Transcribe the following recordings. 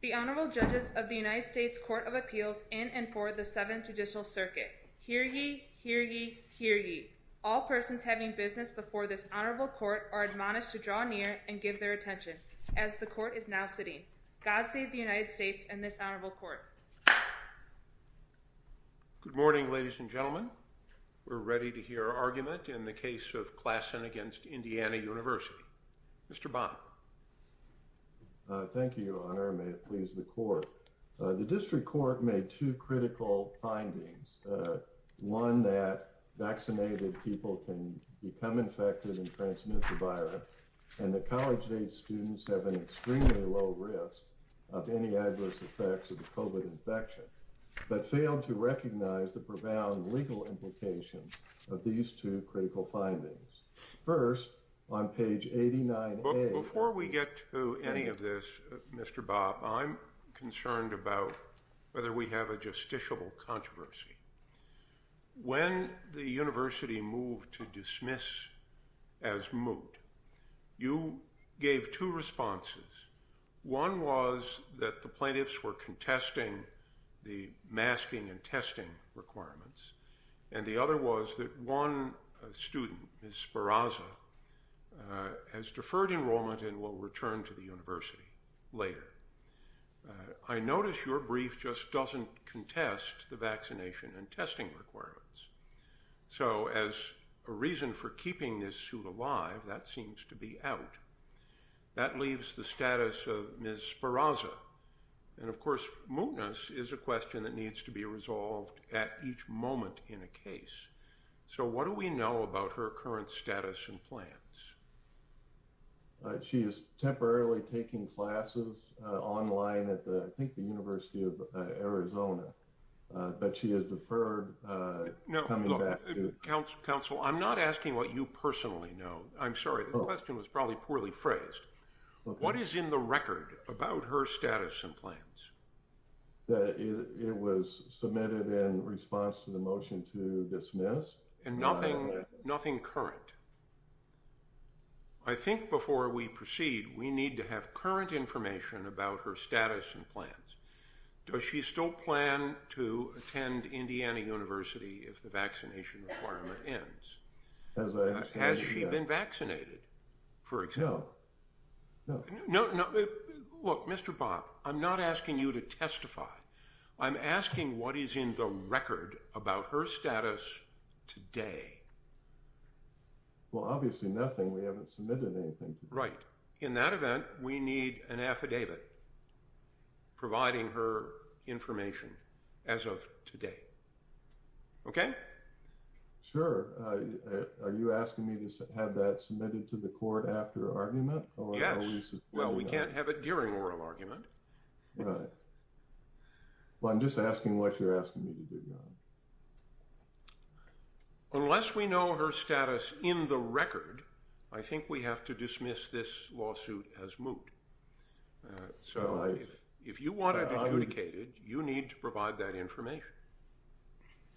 The Honorable Judges of the United States Court of Appeals in and for the Seventh Judicial Circuit. Hear ye! Hear ye! Hear ye! All persons having business before this Honorable Court are admonished to draw near and give their attention, as the Court is now sitting. God save the United States and this Honorable Court. Good morning, ladies and gentlemen. We're ready to hear our argument in the case of Klaassen v. Indiana University. Mr. Bonner. Thank you, Your Honor, and may it please the Court. The District Court made two critical findings. One that vaccinated people can become infected and transmit the virus, and that college-age students have an extremely low risk of any adverse effects of the COVID infection, but failed to recognize the profound legal implications of these two critical findings. First, on page 89A. Before we get to any of this, Mr. Bob, I'm concerned about whether we have a justiciable controversy. When the university moved to dismiss as moot, you gave two responses. One was that the plaintiffs were contesting the masking and testing requirements, and the other was that one student, Ms. Speraza, has deferred enrollment and will return to the university later. I notice your brief just doesn't contest the vaccination and testing requirements. So as a reason for keeping this suit alive, that seems to be out. That leaves the status of Ms. Speraza, and of course, mootness is a question that needs to be resolved at each moment in a case. So what do we know about her current status and plans? She is temporarily taking classes online at the, I think the University of Arizona, but she has deferred coming back to- No, look, counsel, I'm not asking what you personally know. I'm sorry, the question was probably poorly phrased. What is in the record about her status and plans? That it was submitted in response to the motion to dismiss. And nothing current. I think before we proceed, we need to have current information about her status and plans. Does she still plan to attend Indiana University if the vaccination requirement ends? Has she been vaccinated, for example? No. No. No. Look, Mr. Bob, I'm not asking you to testify. I'm asking what is in the record about her status today. Well, obviously nothing, we haven't submitted anything. Right. In that event, we need an affidavit providing her information as of today. Okay? Sure. Are you asking me to have that submitted to the court after argument? Yes. Well, we can't have it during oral argument. Right. Well, I'm just asking what you're asking me to do, Your Honor. Unless we know her status in the record, I think we have to dismiss this lawsuit as moot. So if you want it adjudicated, you need to provide that information.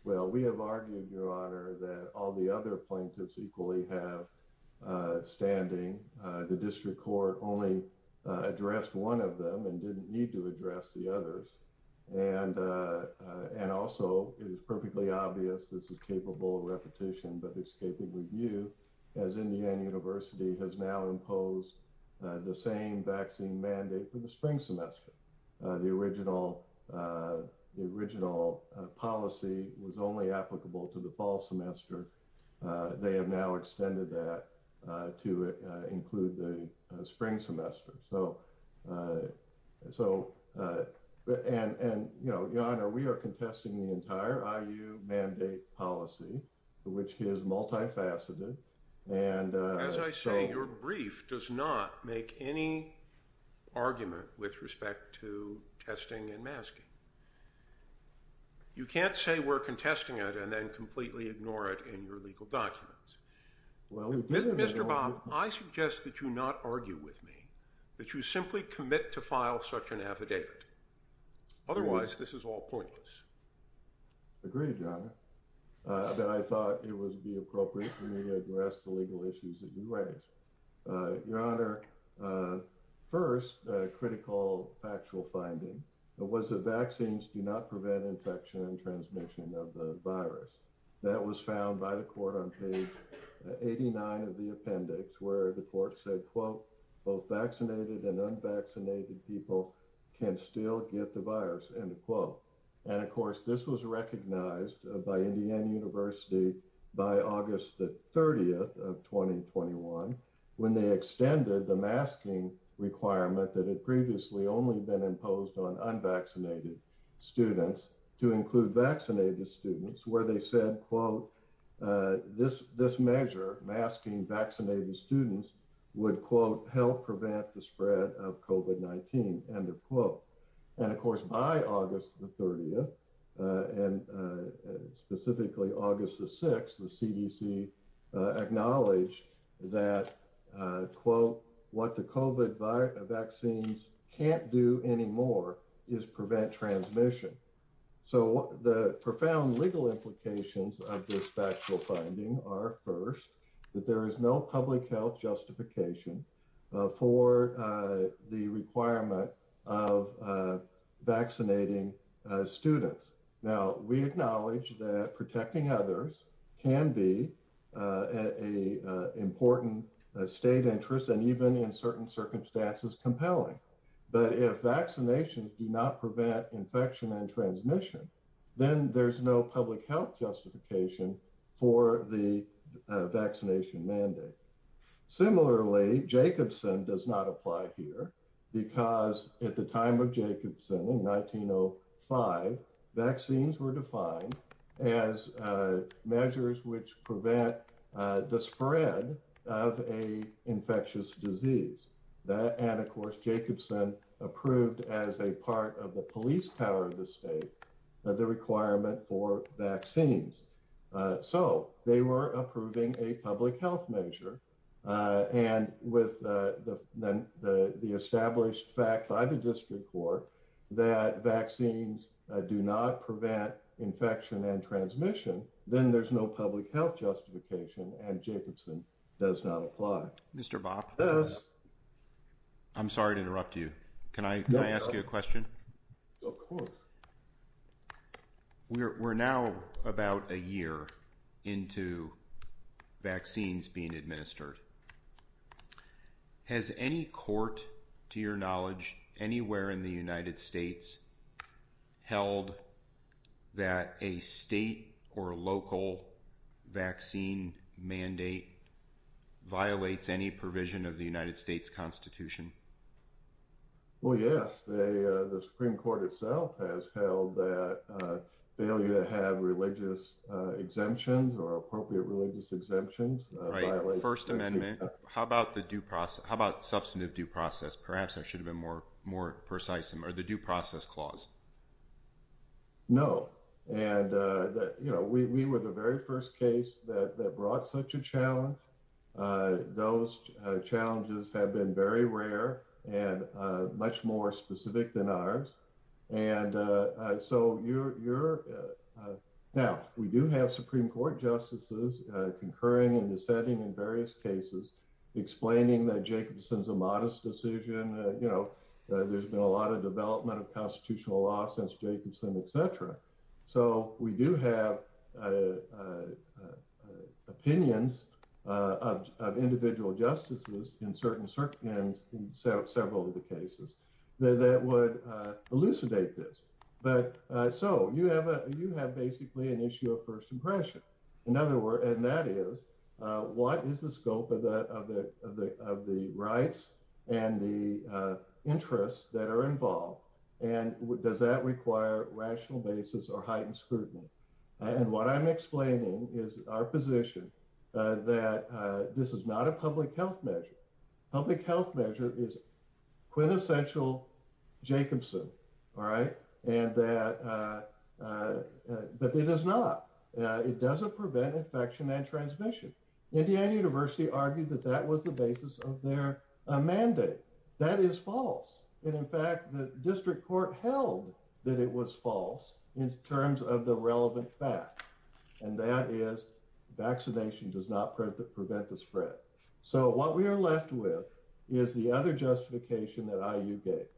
Well, we have argued, Your Honor, that all the other plaintiffs equally have standing. The district court only addressed one of them and didn't need to address the others. And also it is perfectly obvious this is capable of repetition, but it's capable of review as Indiana University has now imposed the same vaccine mandate for the spring semester. The original policy was only applicable to the fall semester. They have now extended that to include the spring semester. So and, Your Honor, we are contesting the entire IU mandate policy, which is multifaceted. And as I say, your brief does not make any argument with respect to testing and masking. You can't say we're contesting it and then completely ignore it in your legal documents. Mr. Baum, I suggest that you not argue with me, that you simply commit to file such an affidavit. Otherwise, this is all pointless. Agreed, Your Honor, that I thought it would be appropriate for me to address the legal issues that you raised. Your Honor, first, a critical factual finding was that vaccines do not prevent infection and transmission of the virus. That was found by the court on page 89 of the appendix, where the court said, quote, both vaccinated and unvaccinated people can still get the virus, end of quote. And, of course, this was recognized by Indiana University by August the 30th of 2021, when they extended the masking requirement that had previously only been imposed on unvaccinated students to include vaccinated students, where they said, quote, this this measure masking vaccinated students would, quote, help prevent the spread of COVID-19, end of quote. And, of course, by August the 30th and specifically August the 6th, the CDC acknowledged that, quote, what the COVID vaccines can't do anymore is prevent transmission. So the profound legal implications of this factual finding are first, that there is no public health justification for the requirement of vaccinating students. Now, we acknowledge that protecting others can be a important state interest and even in certain circumstances, compelling. But if vaccinations do not prevent infection and transmission, then there's no public health justification for the vaccination mandate. Similarly, Jacobson does not apply here because at the time of Jacobson in 1905, vaccines were defined as measures which prevent the spread of a infectious disease. And, of course, Jacobson approved as a part of the police power of the state of the requirement for vaccines. So they were approving a public health measure. And with the established fact by the district court that vaccines do not prevent infection and transmission, then there's no public health justification. And Jacobson does not apply. Mr. Bob, I'm sorry to interrupt you. Can I ask you a question? Of course. We're now about a year into vaccines being administered. Has any court, to your knowledge, anywhere in the United States held that a state or local vaccine mandate violates any provision of the United States Constitution? Well, yes, the Supreme Court itself has held that failure to have religious exemptions or appropriate religious exemptions. Right. First Amendment. How about the due process? How about substantive due process? Perhaps there should have been more more precise or the due process clause. No. And, you know, we were the very first case that brought such a challenge. Those challenges have been very rare and much more specific than ours. And so you're now we do have Supreme Court justices concurring and dissenting in various cases, explaining that Jacobson's a modest decision. You know, there's been a lot of development of constitutional law since Jacobson, et cetera. So we do have opinions of individual justices in certain certain and several of the cases that would elucidate this. But so you have a you have basically an issue of first impression. In other words, and that is, what is the scope of the of the of the rights and the interests that are involved? And does that require rational basis or heightened scrutiny? And what I'm explaining is our position that this is not a public health measure. Public health measure is quintessential Jacobson. All right. And that it is not it doesn't prevent infection and transmission. Indiana University argued that that was the basis of their mandate. That is false. And in fact, the district court held that it was false in terms of the relevant fact. And that is vaccination does not prevent the spread. So what we are left with is the other justification that you get.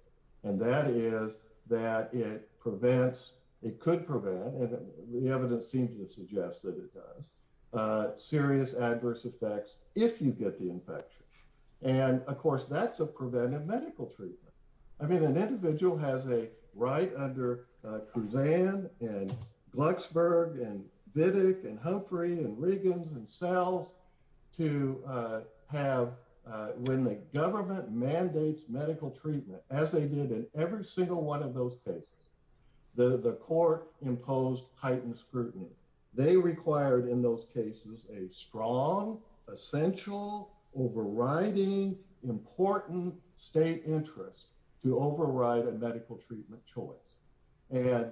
And that is that it prevents it could prevent. And the evidence seems to suggest that it does serious adverse effects if you get the infection. And of course, that's a preventive medical treatment. I mean, an individual has a right under Kuzan and Luxburg and Biddick and Humphrey and Riggins themselves to have when the government mandates medical treatment, as they did in every single one of those cases, the court imposed heightened scrutiny. They required in those cases a strong, essential, overriding, important state interest to override a medical treatment choice. And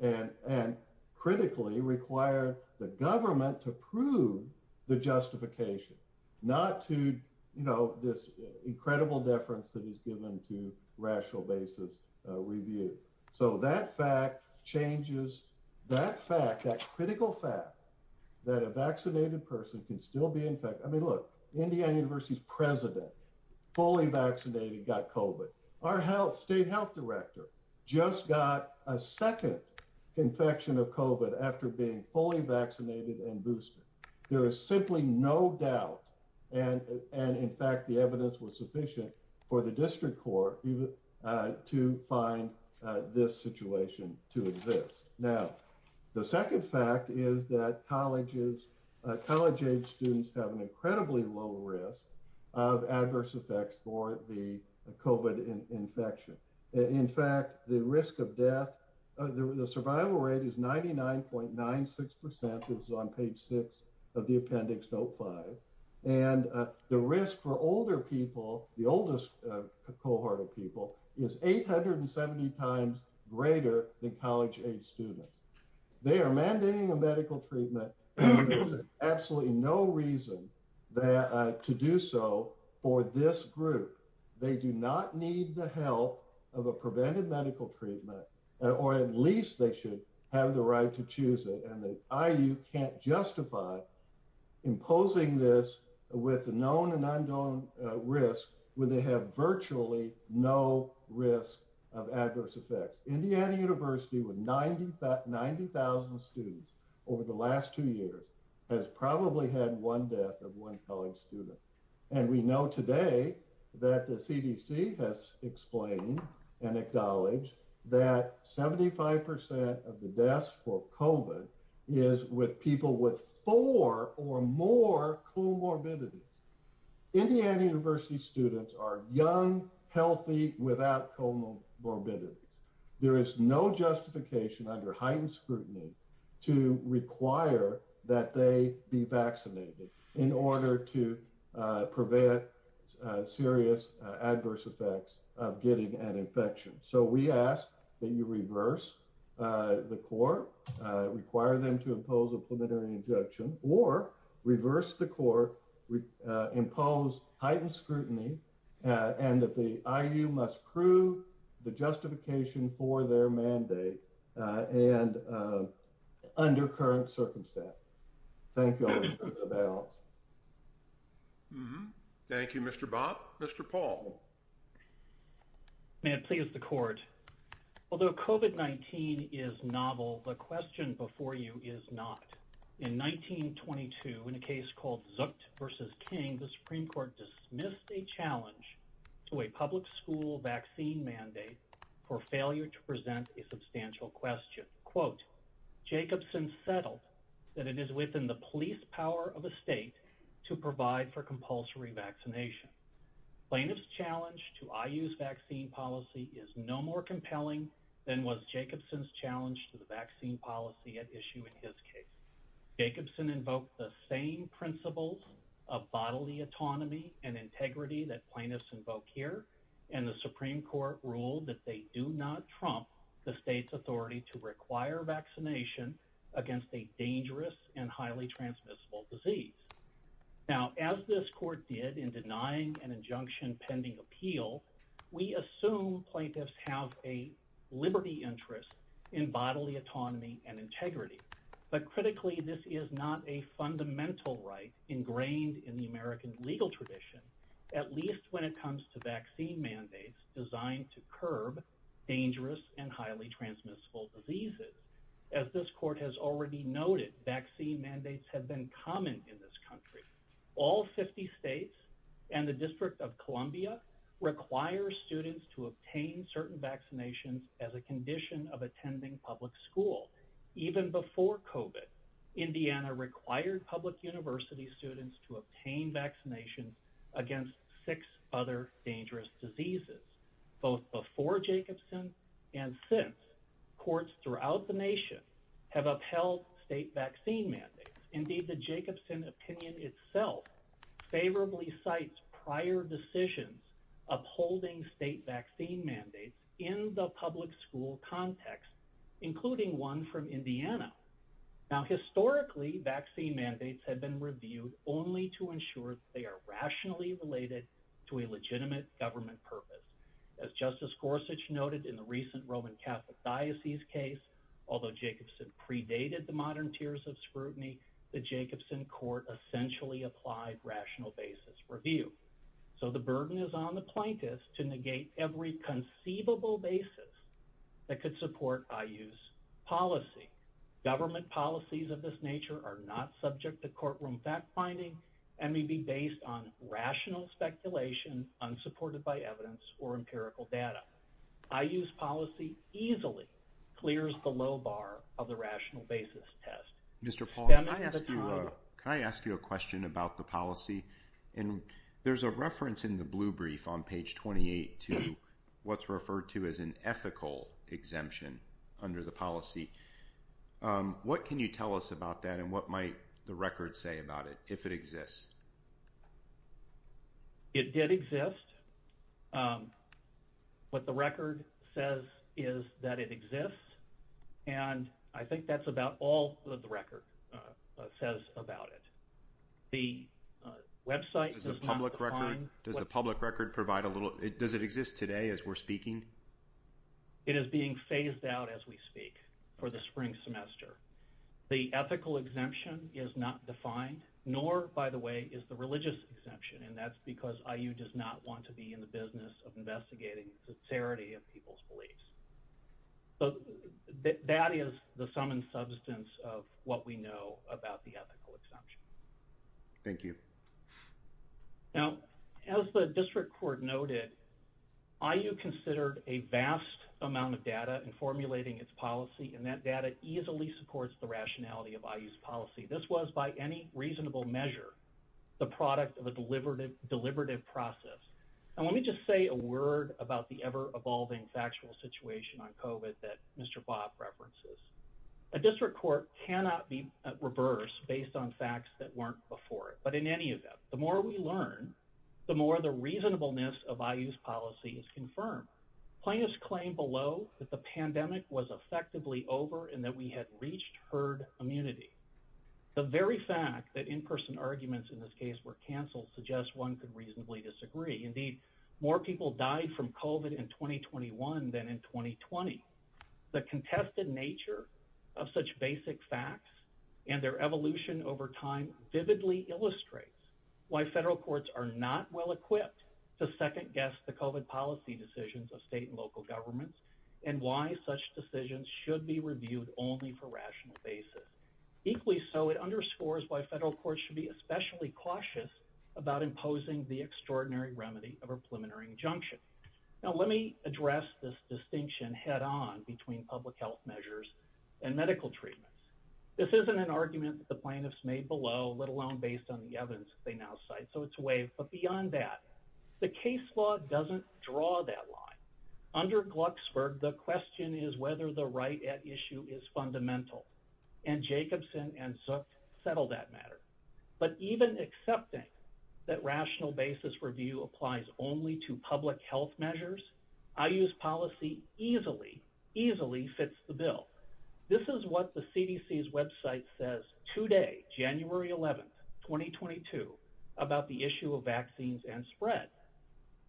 and and critically require the government to prove the justification not to, you know, this incredible deference that is given to rational basis review. So that fact changes that fact, that critical fact that a vaccinated person can still be infected. I mean, look, Indiana University's president, fully vaccinated, got COVID. Our health state health director just got a second infection of COVID after being fully vaccinated and boosted. There is simply no doubt. And and in fact, the evidence was sufficient for the district court to find this situation to exist. Now, the second fact is that colleges, college age students have an incredibly low risk of adverse effects for the COVID infection. In fact, the risk of death, the survival rate is ninety nine point nine six percent. It's on page six of the appendix. Note five. And the risk for older people, the oldest cohort of people is eight hundred and seventy times greater than college age students. They are mandating a medical treatment. Absolutely no reason to do so for this group. They do not need the help of a prevented medical treatment or at least they should have the right to choose it. And the I.U. can't justify imposing this with the known and unknown risk where they have virtually no risk of adverse effects. Indiana University with 90,000 students over the last two years has probably had one death of one college student. And we know today that the CDC has explained and acknowledged that seventy five percent of the deaths for COVID is with people with four or more comorbidity. Indiana University students are young, healthy, without comorbidity. There is no justification under heightened scrutiny to require that they be vaccinated in order to prevent serious adverse effects of getting an infection. So we ask that you reverse the court, require them to impose a preliminary injunction or reverse the court. We impose heightened scrutiny and that the I.U. must prove the justification for their mandate and under current circumstances. Thank you. Thank you, Mr. Bob. Mr. Paul. May it please the court. Although COVID-19 is novel, the question before you is not. In 1922, in a case called Zuck versus King, the Supreme Court dismissed a challenge to a public school vaccine mandate for failure to present a substantial question. Quote, Jacobson settled that it is within the police power of a state to provide for compulsory vaccination. Plaintiff's challenge to I.U.'s vaccine policy is no more compelling than was Jacobson's challenge to the vaccine policy at issue in his case. Jacobson invoked the same principles of bodily autonomy and integrity that plaintiffs invoke here. And the Supreme Court ruled that they do not trump the state's authority to require vaccination against a dangerous and highly transmissible disease. Now, as this court did in denying an injunction pending appeal, we assume plaintiffs have a liberty interest in bodily autonomy and integrity. But critically, this is not a fundamental right ingrained in the American legal tradition, at least when it comes to vaccine mandates designed to curb dangerous and highly transmissible diseases. As this court has already noted, vaccine mandates have been common in this country. All 50 states and the District of Columbia require students to obtain certain vaccinations as a condition of attending public school. Even before COVID, Indiana required public university students to obtain vaccination against six other dangerous diseases. Both before Jacobson and since, courts throughout the nation have upheld state vaccine mandates. Indeed, the Jacobson opinion itself favorably cites prior decisions upholding state vaccine mandates in the public school context, including one from Indiana. Now, historically, vaccine mandates have been reviewed only to ensure they are rationally related to a legitimate government purpose. As Justice Gorsuch noted in the recent Roman Catholic diocese case, although Jacobson predated the modern tiers of scrutiny, the Jacobson court essentially applied rational basis review. So the burden is on the plaintiffs to negate every conceivable basis that could support IU's policy. Government policies of this nature are not subject to courtroom fact-finding and may be based on rational speculation unsupported by evidence or empirical data. IU's policy easily clears the low bar of the rational basis test. Mr. Paul, can I ask you a question about the policy? There's a reference in the blue brief on page 28 to what's referred to as an ethical exemption under the policy. What can you tell us about that and what might the record say about it, if it exists? It did exist. What the record says is that it exists, and I think that's about all that the record says about it. Does the public record provide a little bit? Does it exist today as we're speaking? It is being phased out as we speak for the spring semester. The ethical exemption is not defined, nor, by the way, is the religious exemption, and that's because IU does not want to be in the business of investigating sincerity of people's beliefs. So that is the sum and substance of what we know about the ethical exemption. Thank you. Now, as the district court noted, IU considered a vast amount of data in formulating its policy, and that data easily supports the rationality of IU's policy. This was, by any reasonable measure, the product of a deliberative process. Now, let me just say a word about the ever-evolving factual situation on COVID that Mr. Bob references. A district court cannot be at reverse based on facts that weren't before it, but in any event, the more we learn, the more the reasonableness of IU's policy is confirmed. Plaintiffs claim below that the pandemic was effectively over and that we had reached herd immunity. The very fact that in-person arguments in this case were canceled suggests one could reasonably disagree. Indeed, more people died from COVID in 2021 than in 2020. The contested nature of such basic facts and their evolution over time vividly illustrates why federal courts are not well-equipped to second-guess the COVID policy decisions of state and local governments and why such decisions should be reviewed only for rational basis. Equally so, it underscores why federal courts should be especially cautious about imposing the extraordinary remedy of a preliminary injunction. Now, let me address this distinction head-on between public health measures and medical treatments. This isn't an argument that the plaintiffs made below, let alone based on the evidence they now cite, so it's a wave, but beyond that, the case law doesn't draw that line. Under Glucksberg, the question is whether the right at issue is fundamental, and Jacobson and Zook settled that matter. But even accepting that rational basis review applies only to public health measures, IU's policy easily, easily fits the bill. This is what the CDC's website says today, January 11, 2022, about the issue of vaccines and spread.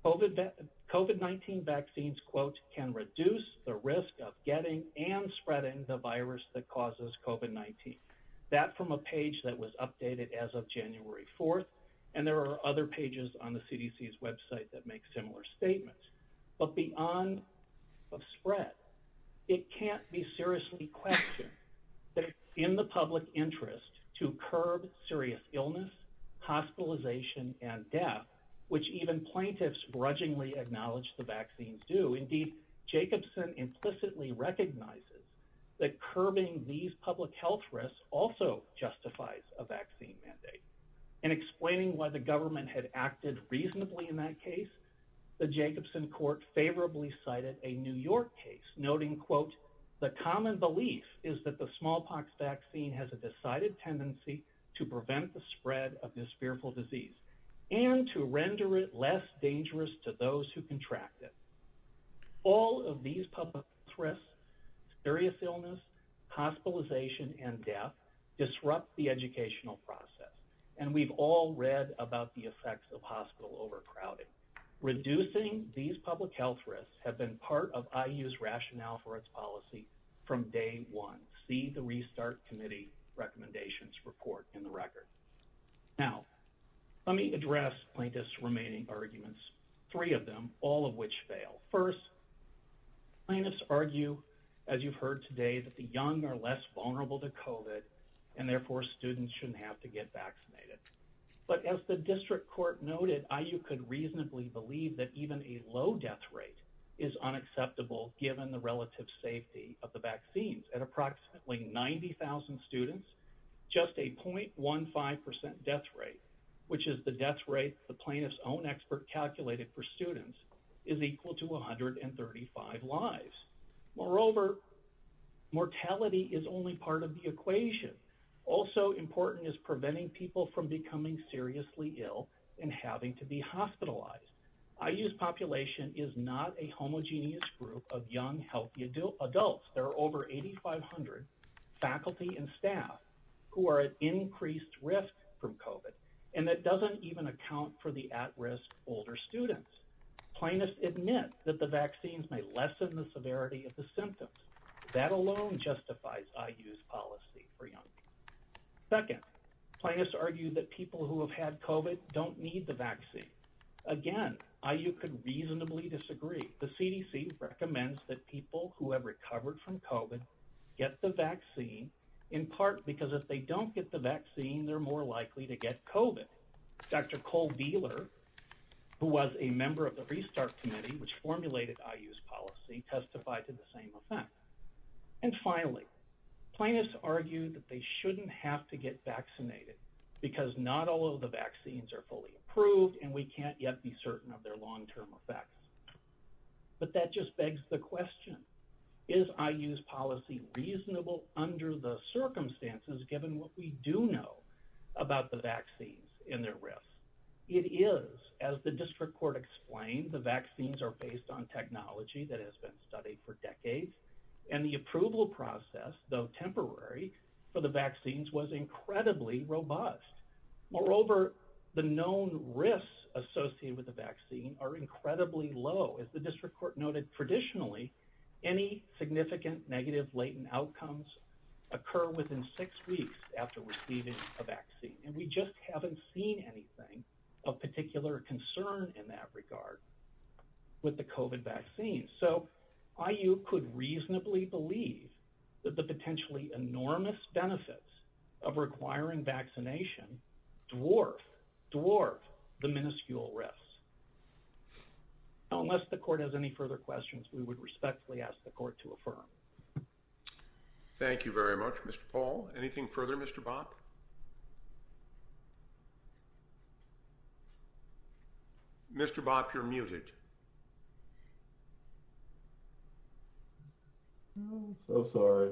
COVID-19 vaccines, quote, can reduce the risk of getting and spreading the virus that causes COVID-19. That from a page that was updated as of January 4th, and there are other pages on the CDC's website that make similar statements. But beyond the spread, it can't be seriously questioned that in the public interest to curb serious illness, hospitalization, and death, which even plaintiffs grudgingly acknowledge the vaccines do, indeed, Jacobson implicitly recognizes that curbing these public health risks also justifies a vaccine mandate. In explaining why the government had acted reasonably in that case, the Jacobson court favorably cited a New York case, noting, quote, the common belief is that the smallpox vaccine has a decided tendency to prevent the spread of this fearful disease, and to render it less dangerous to those who contract it. All of these public health risks, serious illness, hospitalization, and death disrupt the educational process. And we've all read about the effects of hospital overcrowding. Reducing these public health risks have been part of IU's rationale for its policy from day one. See the restart committee recommendations report in the record. Now, let me address plaintiffs' remaining arguments, three of them, all of which fail. First, plaintiffs argue, as you've heard today, that the young are less vulnerable to COVID, and therefore students shouldn't have to get vaccinated. But as the district court noted, IU could reasonably believe that even a low death rate is unacceptable, given the relative safety of the vaccines. At approximately 90,000 students, just a .15% death rate, which is the death rate the plaintiffs' own expert calculated for students, is equal to 135 lives. Moreover, mortality is only part of the equation. Also important is preventing people from becoming seriously ill and having to be hospitalized. IU's population is not a homogeneous group of young healthy adults. There are over 8,500 faculty and staff who are at increased risk from COVID, and that doesn't even account for the at-risk older students. Plaintiffs admit that the vaccines may lessen the severity of the symptoms. That alone justifies IU's policy for young people. Second, plaintiffs argue that people who have had COVID don't need the vaccine. Again, IU could reasonably disagree. The CDC recommends that people who have recovered from COVID get the vaccine, in part because if they don't get the vaccine, they're more likely to get COVID. Dr. Cole-Vehler, who was a member of the Restart Committee, which formulated IU's policy, testified to the same effect. And finally, plaintiffs argue that they shouldn't have to get vaccinated, because not all of the vaccines are fully approved, and we can't yet be certain of their long-term effects. But that just begs the question. Is IU's policy reasonable under the circumstances, given what we do know about the vaccines and their risks? It is. As the district court explained, the vaccines are based on technology that has been studied for decades, and the approval process, though temporary for the vaccines, was incredibly robust. Moreover, the known risks associated with the vaccine are incredibly low. As the district court noted traditionally, any significant negative latent outcomes occur within six weeks after receiving a vaccine. And we just haven't seen anything of particular concern in that regard with the COVID vaccine. So IU could reasonably believe that the potentially enormous benefits of requiring vaccination dwarf the minuscule risks. Unless the court has any further questions, we would respectfully ask the court to affirm. Thank you very much, Mr. Paul. Anything further, Mr. Bopp? Mr. Bopp, you're muted. I'm so sorry.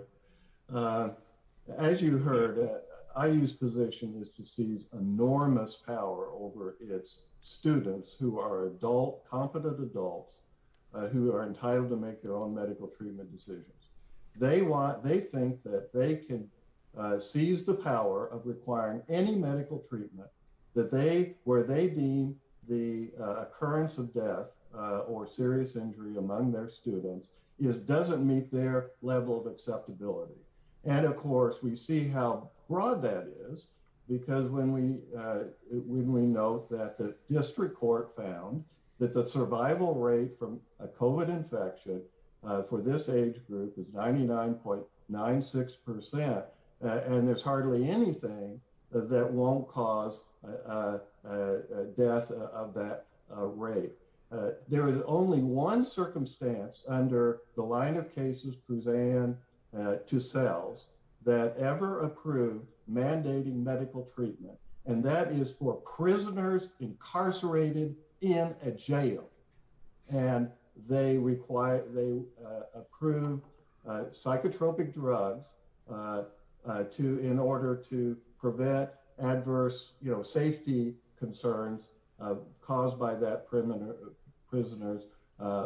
As you heard, IU's position is to seize enormous power over its students who are adult, competent adults, who are entitled to make their own medical treatment decisions. They think that they can seize the power of requiring any medical treatment where they deem the occurrence of death or serious injury among their students doesn't meet their level of acceptability. And, of course, we see how broad that is because when we note that the district court found that the survival rate from a COVID infection for this age group is 99.96%, and there's hardly anything that won't cause death of that rate. There is only one circumstance under the line of cases, Poussin to CELS, that ever approved mandating medical treatment, and that is for prisoners incarcerated in a jail. And they approve psychotropic drugs in order to prevent adverse safety concerns caused by that prisoner's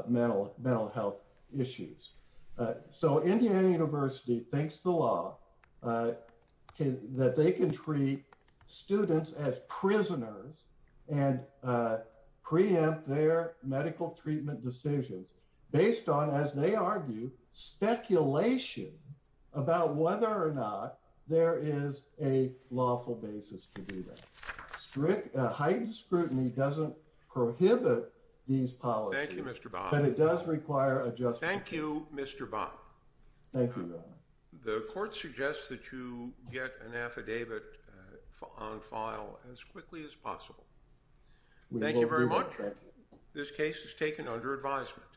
mental health issues. So, Indiana University thinks the law that they can treat students as prisoners and preempt their medical treatment decisions based on, as they argue, speculation about whether or not there is a lawful basis to do that. Heightened scrutiny doesn't prohibit these policies. Thank you, Mr. Bopp. But it does require adjustment. Thank you, Mr. Bopp. Thank you. The court suggests that you get an affidavit on file as quickly as possible. Thank you very much. This case is taken under advisement.